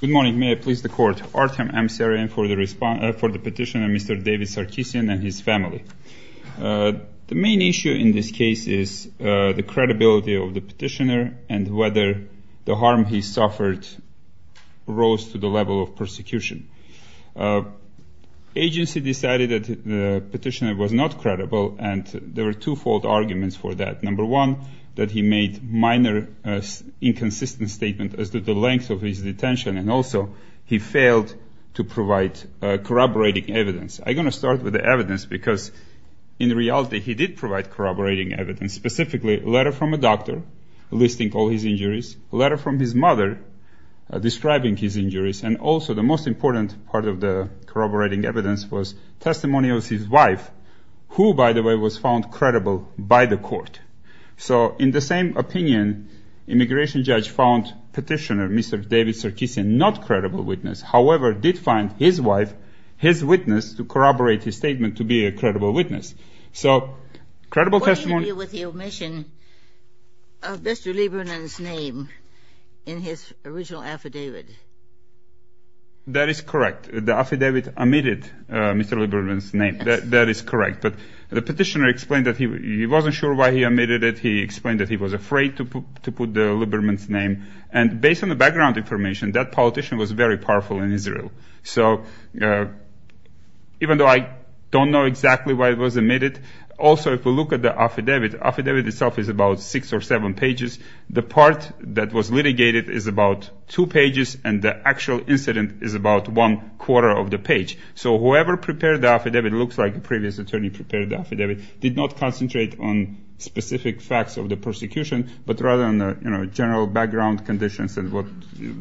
Good morning. May I please the court. Artem Amsaryan for the petitioner Mr. David Sarkisian and his family. The main issue in this case is the credibility of the petitioner and whether the harm he suffered rose to the level of persecution. Agency decided that the petitioner was not credible and there were two-fold arguments for that. Number one, that he made minor inconsistent statements as to the length of his detention and also he failed to provide corroborating evidence. I'm going to start with the evidence because in reality he did provide corroborating evidence, specifically a letter from a doctor listing all his injuries, a letter from his mother describing his injuries, and also the most important part of the corroborating evidence was testimony of his wife, who by the way was found credible by the court. So in the same opinion, immigration judge found petitioner Mr. David Sarkisian not credible witness, however did find his wife, his witness, to corroborate his statement to be a credible witness. So credible testimony... What do you do with the omission of Mr. Lieberman's name in his original affidavit? That is correct. The affidavit omitted Mr. Lieberman's name. That is correct. But the petitioner explained that he wasn't sure why he omitted it. He explained that he was afraid to put the Lieberman's name. And based on the background information, that politician was very powerful in Israel. So even though I don't know exactly why it was omitted, also if we look at the affidavit, affidavit itself is about six or seven pages. The part that was litigated is about two pages, and the actual incident is about one quarter of the page. So whoever prepared the affidavit, looks like the previous attorney prepared the affidavit, did not concentrate on specific facts of the persecution, but rather on general background conditions and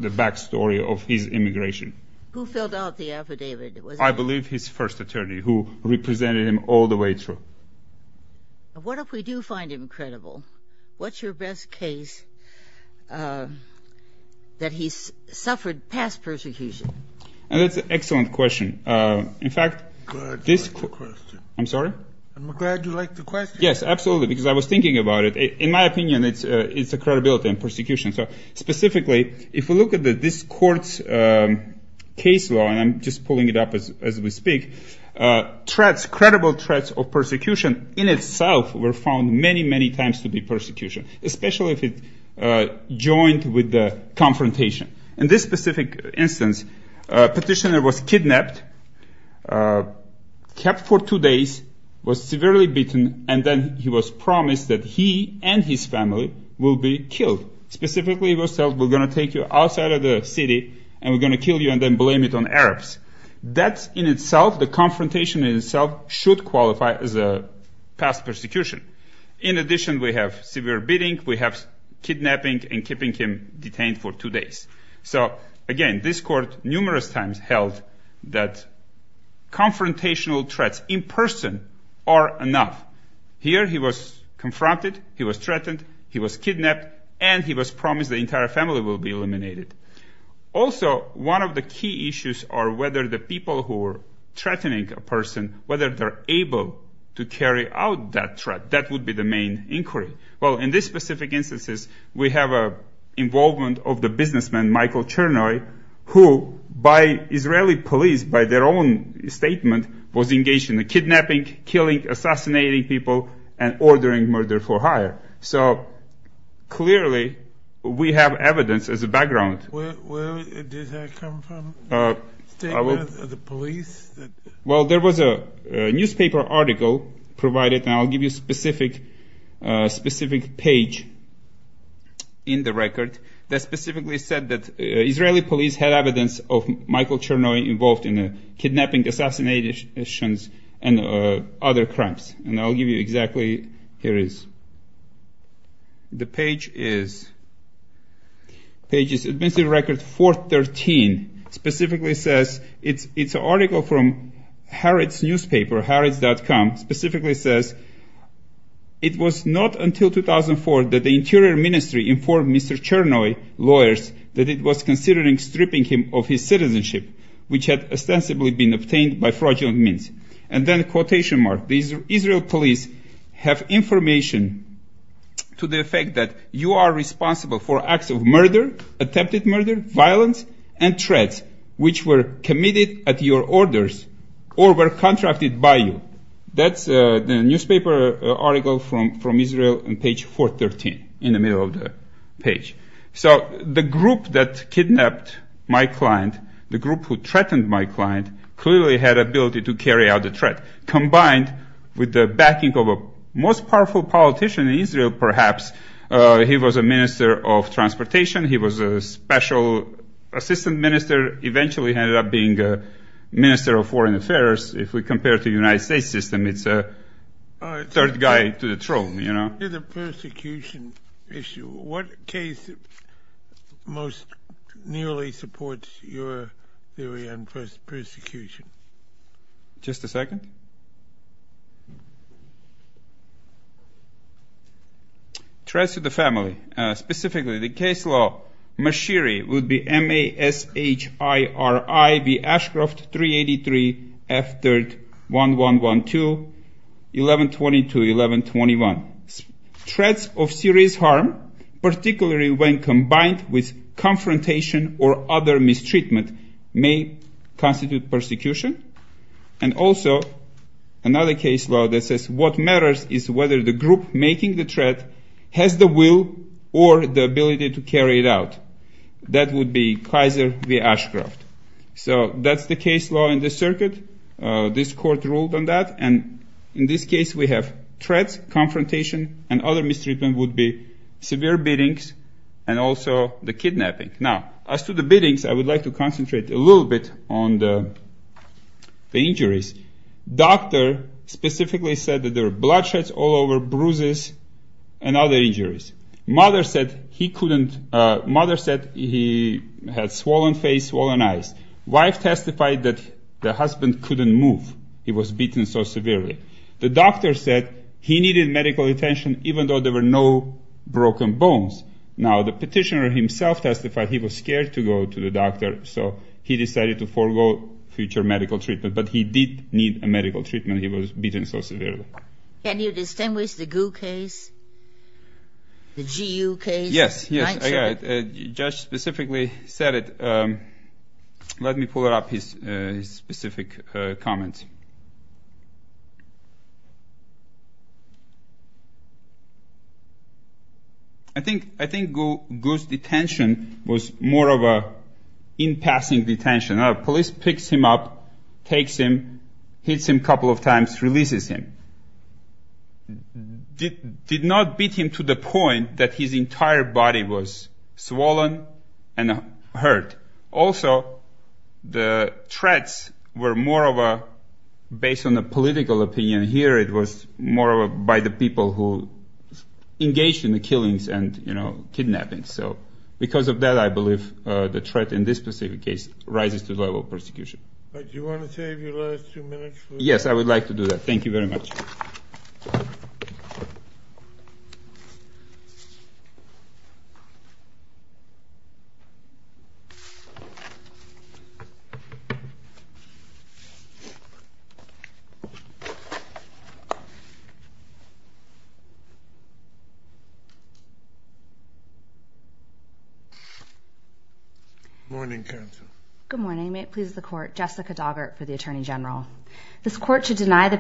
the backstory of his immigration. Who filled out the affidavit? I believe his first attorney, who represented him all the way through. What if we do find him credible? What's your best case that he suffered past persecution? That's an excellent question. In fact, this- I'm glad you like the question. I'm sorry? I'm glad you like the question. Yes, absolutely, because I was thinking about it. In my opinion, it's the credibility and persecution. So specifically, if we look at this court's case law, and I'm just pulling it up as we speak, threats, credible threats of persecution in itself were found many, many times to be persecution, especially if it joined with the confrontation. In this specific instance, petitioner was kidnapped, kept for two days, was severely beaten, and then he was promised that he and his family will be killed. Specifically, he was told, we're going to take you outside of the city, and we're going to kill you and then blame it on Arabs. That in itself, the confrontation in itself, should qualify as a past persecution. In addition, we have severe beating, we have kidnapping, and keeping him detained for two days. So again, this court numerous times held that confrontational threats in person are enough. Here, he was confronted, he was threatened, he was kidnapped, and he was promised the entire family will be eliminated. Also, one of the key issues are whether the people who are threatening a person, whether they're able to carry out that threat. That would be the main inquiry. Well, in this specific instances, we have involvement of the businessman, Michael Chernoi, who by Israeli police, by their own statement, was engaged in the kidnapping, killing, assassinating people, and ordering murder for hire. So, clearly, we have evidence as a background. Where did that come from? A statement of the police? Well, there was a newspaper article provided, and I'll give you a specific page in the record, that specifically said that Israeli police had evidence of Michael Chernoi involved in kidnapping, assassinations, and other crimes. And I'll give you exactly, here it is. The page is? Administrative record 413, specifically says, it's an article from Harrods newspaper, harrods.com, specifically says, it was not until 2004 that the Interior Ministry informed Mr. Chernoi, lawyers, that it was considering stripping him of his citizenship, which had ostensibly been obtained by fraudulent means. And then, quotation mark, the Israel police have information to the effect that you are responsible for acts of murder, attempted murder, violence, and threats, which were committed at your orders, or were contracted by you. That's the newspaper article from Israel on page 413, in the middle of the page. So the group that kidnapped my client, the group who threatened my client, clearly had ability to carry out the threat, combined with the backing of a most powerful politician in Israel, perhaps. He was a minister of transportation. He was a special assistant minister, eventually ended up being a minister of foreign affairs. If we compare it to the United States system, it's a third guy to the throne, you know. After the persecution issue, what case most nearly supports your theory on persecution? Threats to the family. Specifically, the case law, Mashiri, would be M-A-S-H-I-R-I-V, Ashcroft 383, F-3-1-1-1-2, 1122-1121. Threats of serious harm, particularly when combined with confrontation or other mistreatment, may constitute persecution. And also, another case law that says what matters is whether the group making the threat has the will or the ability to carry it out. That would be Kaiser v. Ashcroft. So that's the case law in this circuit. This court ruled on that. And in this case, we have threats, confrontation, and other mistreatment would be severe beatings and also the kidnapping. Now, as to the beatings, I would like to concentrate a little bit on the injuries. Doctor specifically said that there were bloodshed all over, bruises, and other injuries. Mother said he had swollen face, swollen eyes. Wife testified that the husband couldn't move. He was beaten so severely. The doctor said he needed medical attention even though there were no broken bones. Now, the petitioner himself testified he was scared to go to the doctor, so he decided to forego future medical treatment. But he did need a medical treatment. He was beaten so severely. Can you distinguish the GU case, the GU case? Yes. The judge specifically said it. Let me pull up his specific comment. I think GU's detention was more of an in-passing detention. Police picks him up, takes him, hits him a couple of times, releases him. Did not beat him to the point that his entire body was swollen and hurt. Also, the threats were more of a, based on the political opinion here, it was more by the people who engaged in the killings and kidnappings. Because of that, I believe the threat in this specific case rises to the level of persecution. Do you want to save your last two minutes? Yes, I would like to do that. Thank you very much. Good morning, counsel. Good morning. May it please the Court. This Court should deny the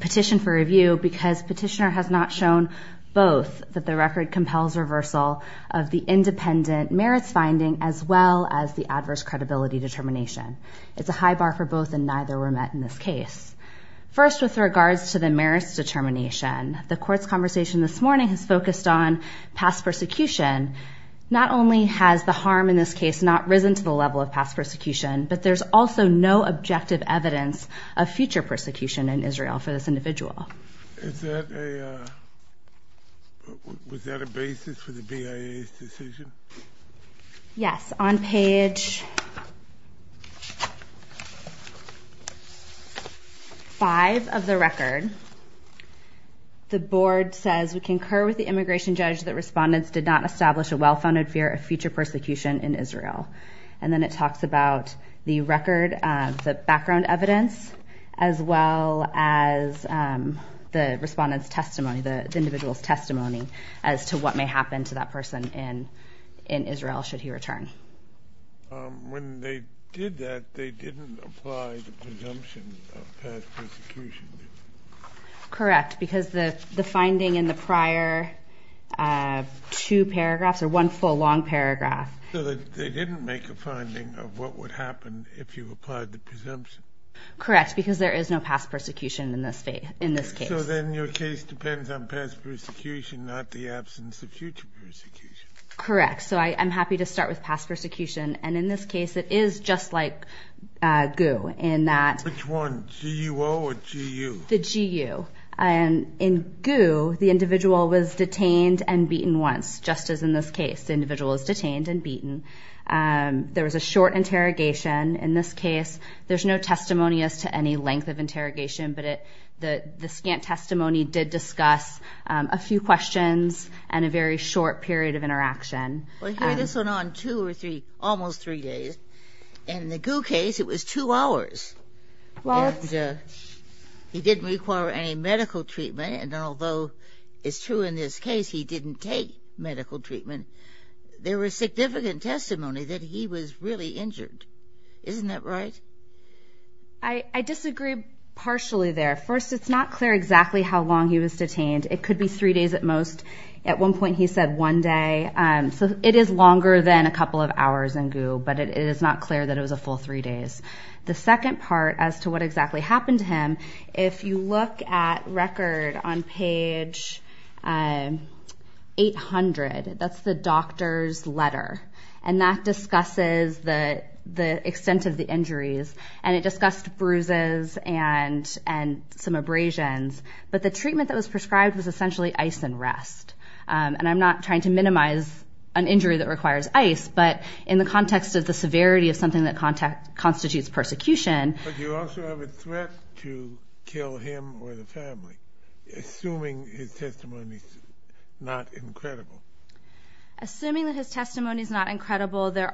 petition for review because petitioner has not shown both that the record compels reversal of the independent merits finding as well as the adverse credibility determination. It's a high bar for both and neither were met in this case. First, with regards to the merits determination, the Court's conversation this morning has focused on past persecution. Not only has the harm in this case not risen to the level of past persecution, but there's also no objective evidence of future persecution in Israel for this individual. Was that a basis for the BIA's decision? Yes. It's on page five of the record. The board says, we concur with the immigration judge that respondents did not establish a well-founded fear of future persecution in Israel. And then it talks about the record, the background evidence, as well as the respondent's testimony, the individual's testimony as to what may happen to that person in Israel should he return. When they did that, they didn't apply the presumption of past persecution. Correct, because the finding in the prior two paragraphs or one full long paragraph. So they didn't make a finding of what would happen if you applied the presumption? Correct, because there is no past persecution in this case. So then your case depends on past persecution, not the absence of future persecution. Correct. So I'm happy to start with past persecution. And in this case, it is just like GU in that. Which one? GUO or GU? The GU. In GU, the individual was detained and beaten once, just as in this case. The individual was detained and beaten. There was a short interrogation in this case. There's no testimony as to any length of interrogation, but the scant testimony did discuss a few questions and a very short period of interaction. Well, this went on two or three, almost three days. And in the GU case, it was two hours. And he didn't require any medical treatment. And although it's true in this case he didn't take medical treatment, there was significant testimony that he was really injured. Isn't that right? I disagree partially there. First, it's not clear exactly how long he was detained. It could be three days at most. At one point he said one day. So it is longer than a couple of hours in GU, but it is not clear that it was a full three days. The second part as to what exactly happened to him, if you look at record on page 800, that's the doctor's letter. And that discusses the extent of the injuries. And it discussed bruises and some abrasions. But the treatment that was prescribed was essentially ice and rest. And I'm not trying to minimize an injury that requires ice, but in the context of the severity of something that constitutes persecution. But you also have a threat to kill him or the family, assuming his testimony is not incredible. Assuming that his testimony is not incredible, there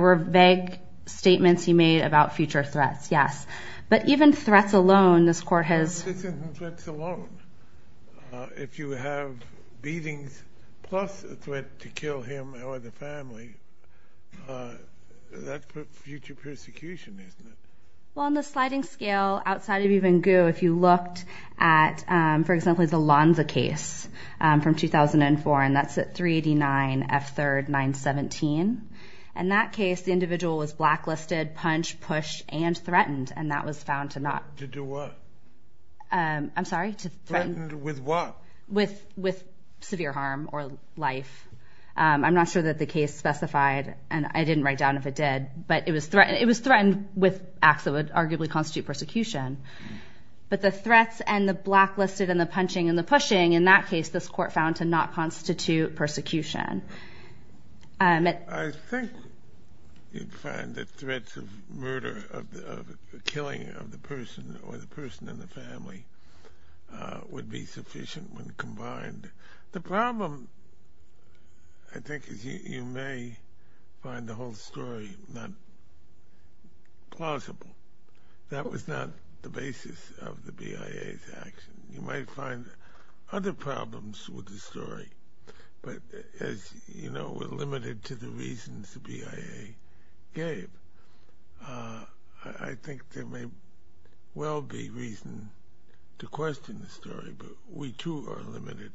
were vague statements he made about future threats, yes. But even threats alone, this court has. Even threats alone. If you have beatings plus a threat to kill him or the family, that's future persecution, isn't it? Well, on the sliding scale, outside of even GU, if you looked at, for example, the Lonza case from 2004, and that's at 389 F3rd 917. In that case, the individual was blacklisted, punched, pushed, and threatened, and that was found to not. To do what? I'm sorry? Threatened with what? With severe harm or life. I'm not sure that the case specified, and I didn't write down if it did. But it was threatened with acts that would arguably constitute persecution. But the threats and the blacklisted and the punching and the pushing, in that case, this court found to not constitute persecution. I think you'd find that threats of murder, of killing of the person or the person and the family would be sufficient when combined. The problem, I think, is you may find the whole story not plausible. That was not the basis of the BIA's action. You might find other problems with the story, but as you know, we're limited to the reasons the BIA gave. I think there may well be reason to question the story, but we, too, are limited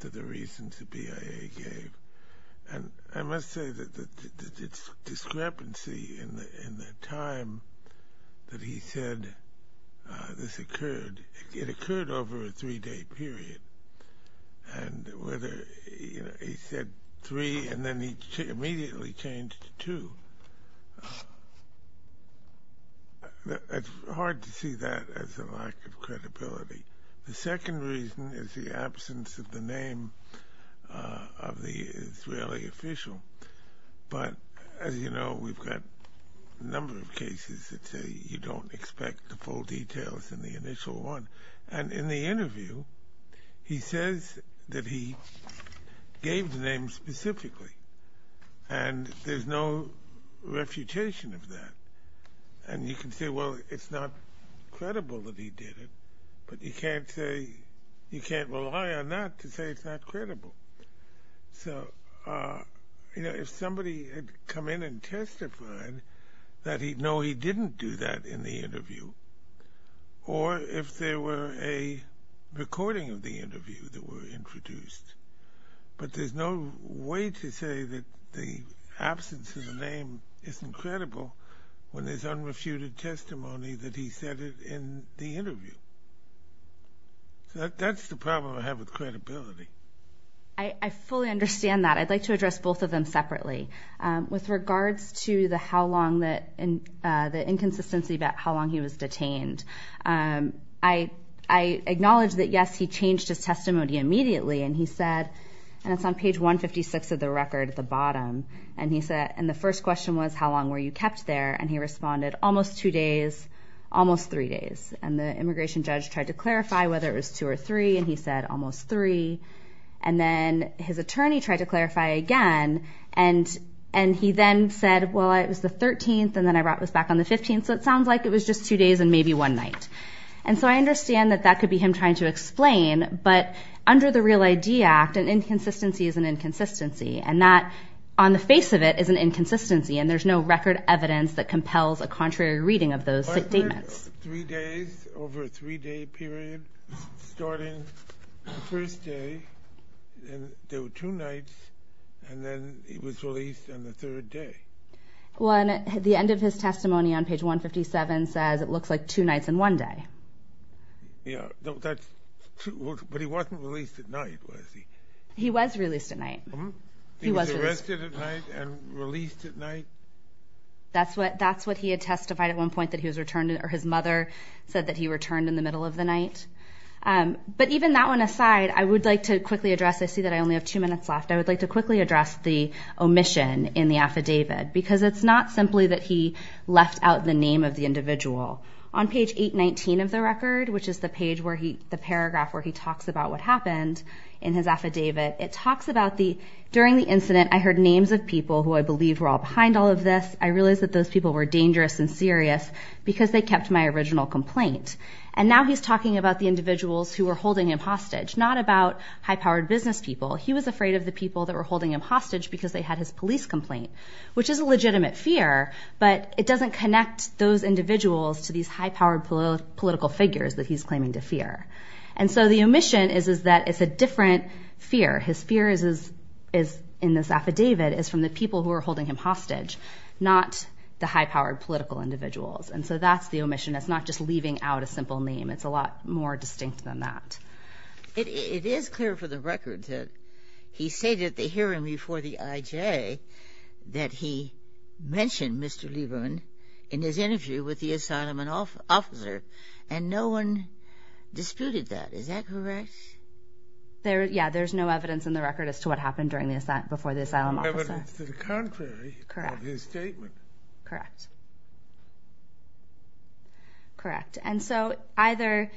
to the reasons the BIA gave. I must say that the discrepancy in the time that he said this occurred, it occurred over a three-day period. And whether he said three and then he immediately changed to two, it's hard to see that as a lack of credibility. The second reason is the absence of the name of the Israeli official. But as you know, we've got a number of cases that say you don't expect the full details in the initial one. And in the interview, he says that he gave the name specifically, and there's no refutation of that. And you can say, well, it's not credible that he did it, but you can't say, you can't rely on that to say it's not credible. So, you know, if somebody had come in and testified that he'd know he didn't do that in the interview, or if there were a recording of the interview that were introduced, but there's no way to say that the absence of the name isn't credible when there's unrefuted testimony that he said it in the interview. So that's the problem I have with credibility. I fully understand that. I'd like to address both of them separately. With regards to the how long, the inconsistency about how long he was detained, I acknowledge that, yes, he changed his testimony immediately. And he said, and it's on page 156 of the record at the bottom. And he said, and the first question was, how long were you kept there? And he responded, almost two days, almost three days. And the immigration judge tried to clarify whether it was two or three. And he said, almost three. And then his attorney tried to clarify again. And he then said, well, it was the 13th, and then I brought this back on the 15th. So it sounds like it was just two days and maybe one night. And so I understand that that could be him trying to explain. But under the Real ID Act, an inconsistency is an inconsistency. And that, on the face of it, is an inconsistency. And there's no record evidence that compels a contrary reading of those statements. Three days, over a three-day period, starting the first day. And there were two nights. And then he was released on the third day. The end of his testimony on page 157 says it looks like two nights and one day. Yeah, that's true. But he wasn't released at night, was he? He was released at night. He was arrested at night and released at night? That's what he had testified at one point, that he was returned or his mother said that he returned in the middle of the night. But even that one aside, I would like to quickly address I see that I only have two minutes left. I would like to quickly address the omission in the affidavit because it's not simply that he left out the name of the individual. On page 819 of the record, which is the paragraph where he talks about what happened in his affidavit, it talks about the During the incident, I heard names of people who I believed were all behind all of this. I realized that those people were dangerous and serious because they kept my original complaint. And now he's talking about the individuals who were holding him hostage, not about high-powered business people. He was afraid of the people that were holding him hostage because they had his police complaint, which is a legitimate fear, but it doesn't connect those individuals to these high-powered political figures that he's claiming to fear. And so the omission is that it's a different fear. His fear in this affidavit is from the people who are holding him hostage, not the high-powered political individuals. And so that's the omission. It's not just leaving out a simple name. It's a lot more distinct than that. It is clear for the record that he stated at the hearing before the IJ that he mentioned Mr. Lieberman in his interview with the asylum officer, and no one disputed that. Is that correct? Yeah, there's no evidence in the record as to what happened before the asylum officer. There's evidence to the contrary of his statement. Correct. Correct. And so either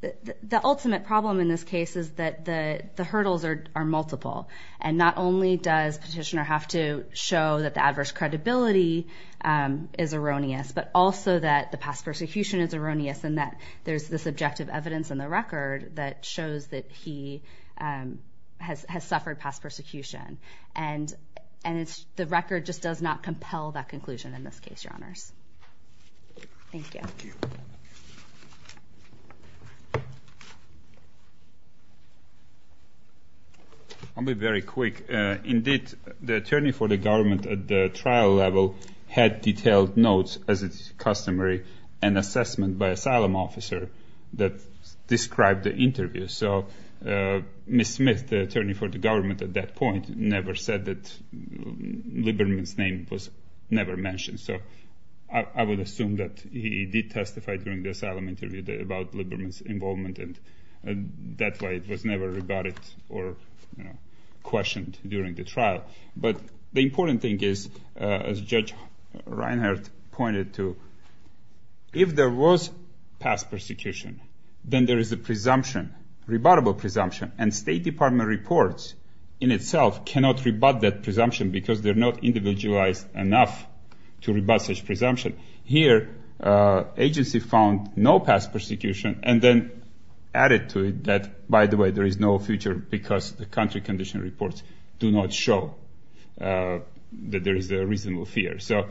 the ultimate problem in this case is that the hurdles are multiple, and not only does Petitioner have to show that the adverse credibility is erroneous, but also that the past persecution is erroneous and that there's this objective evidence in the record that shows that he has suffered past persecution. And the record just does not compel that conclusion in this case, Your Honors. Thank you. I'll be very quick. Indeed, the attorney for the government at the trial level had detailed notes, as is customary, an assessment by asylum officer that described the interview. So Ms. Smith, the attorney for the government at that point, never said that Lieberman's name was never mentioned. So I would assume that he did testify during the asylum interview about Lieberman's involvement, and that's why it was never rebutted or questioned during the trial. But the important thing is, as Judge Reinhart pointed to, if there was past persecution, then there is a presumption, rebuttable presumption, and State Department reports in itself cannot rebut that presumption because they're not individualized enough to rebut such presumption. Here, agency found no past persecution and then added to it that, by the way, there is no future because the country condition reports do not show that there is a reasonable fear. So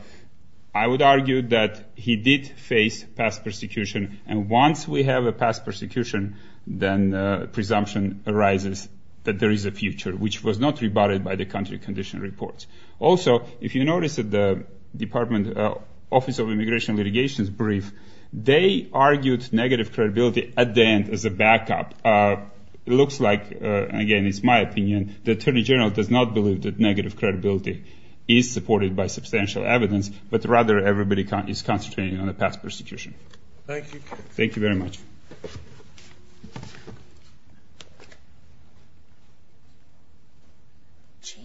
I would argue that he did face past persecution, and once we have a past persecution, then presumption arises that there is a future, which was not rebutted by the country condition reports. Also, if you notice at the Department Office of Immigration Litigation's brief, they argued negative credibility at the end as a backup. It looks like, again, it's my opinion, the Attorney General does not believe that negative credibility is supported by substantial evidence, but rather everybody is concentrating on a past persecution. Thank you. Thank you very much. Thank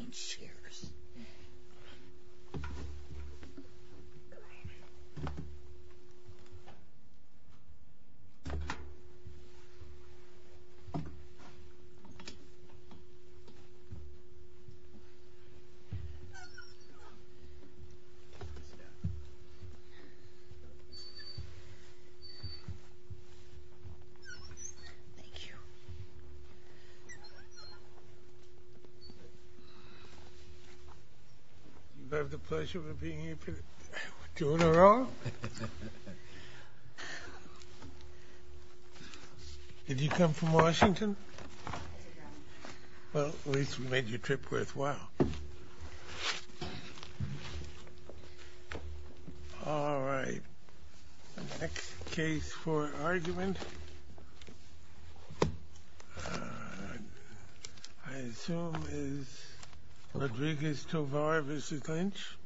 you. Thank you. Do I have the pleasure of being here for two in a row? Did you come from Washington? Well, at least we made your trip worthwhile. Thank you. All right. The next case for argument I assume is Rodriguez-Tovar v. Lynch.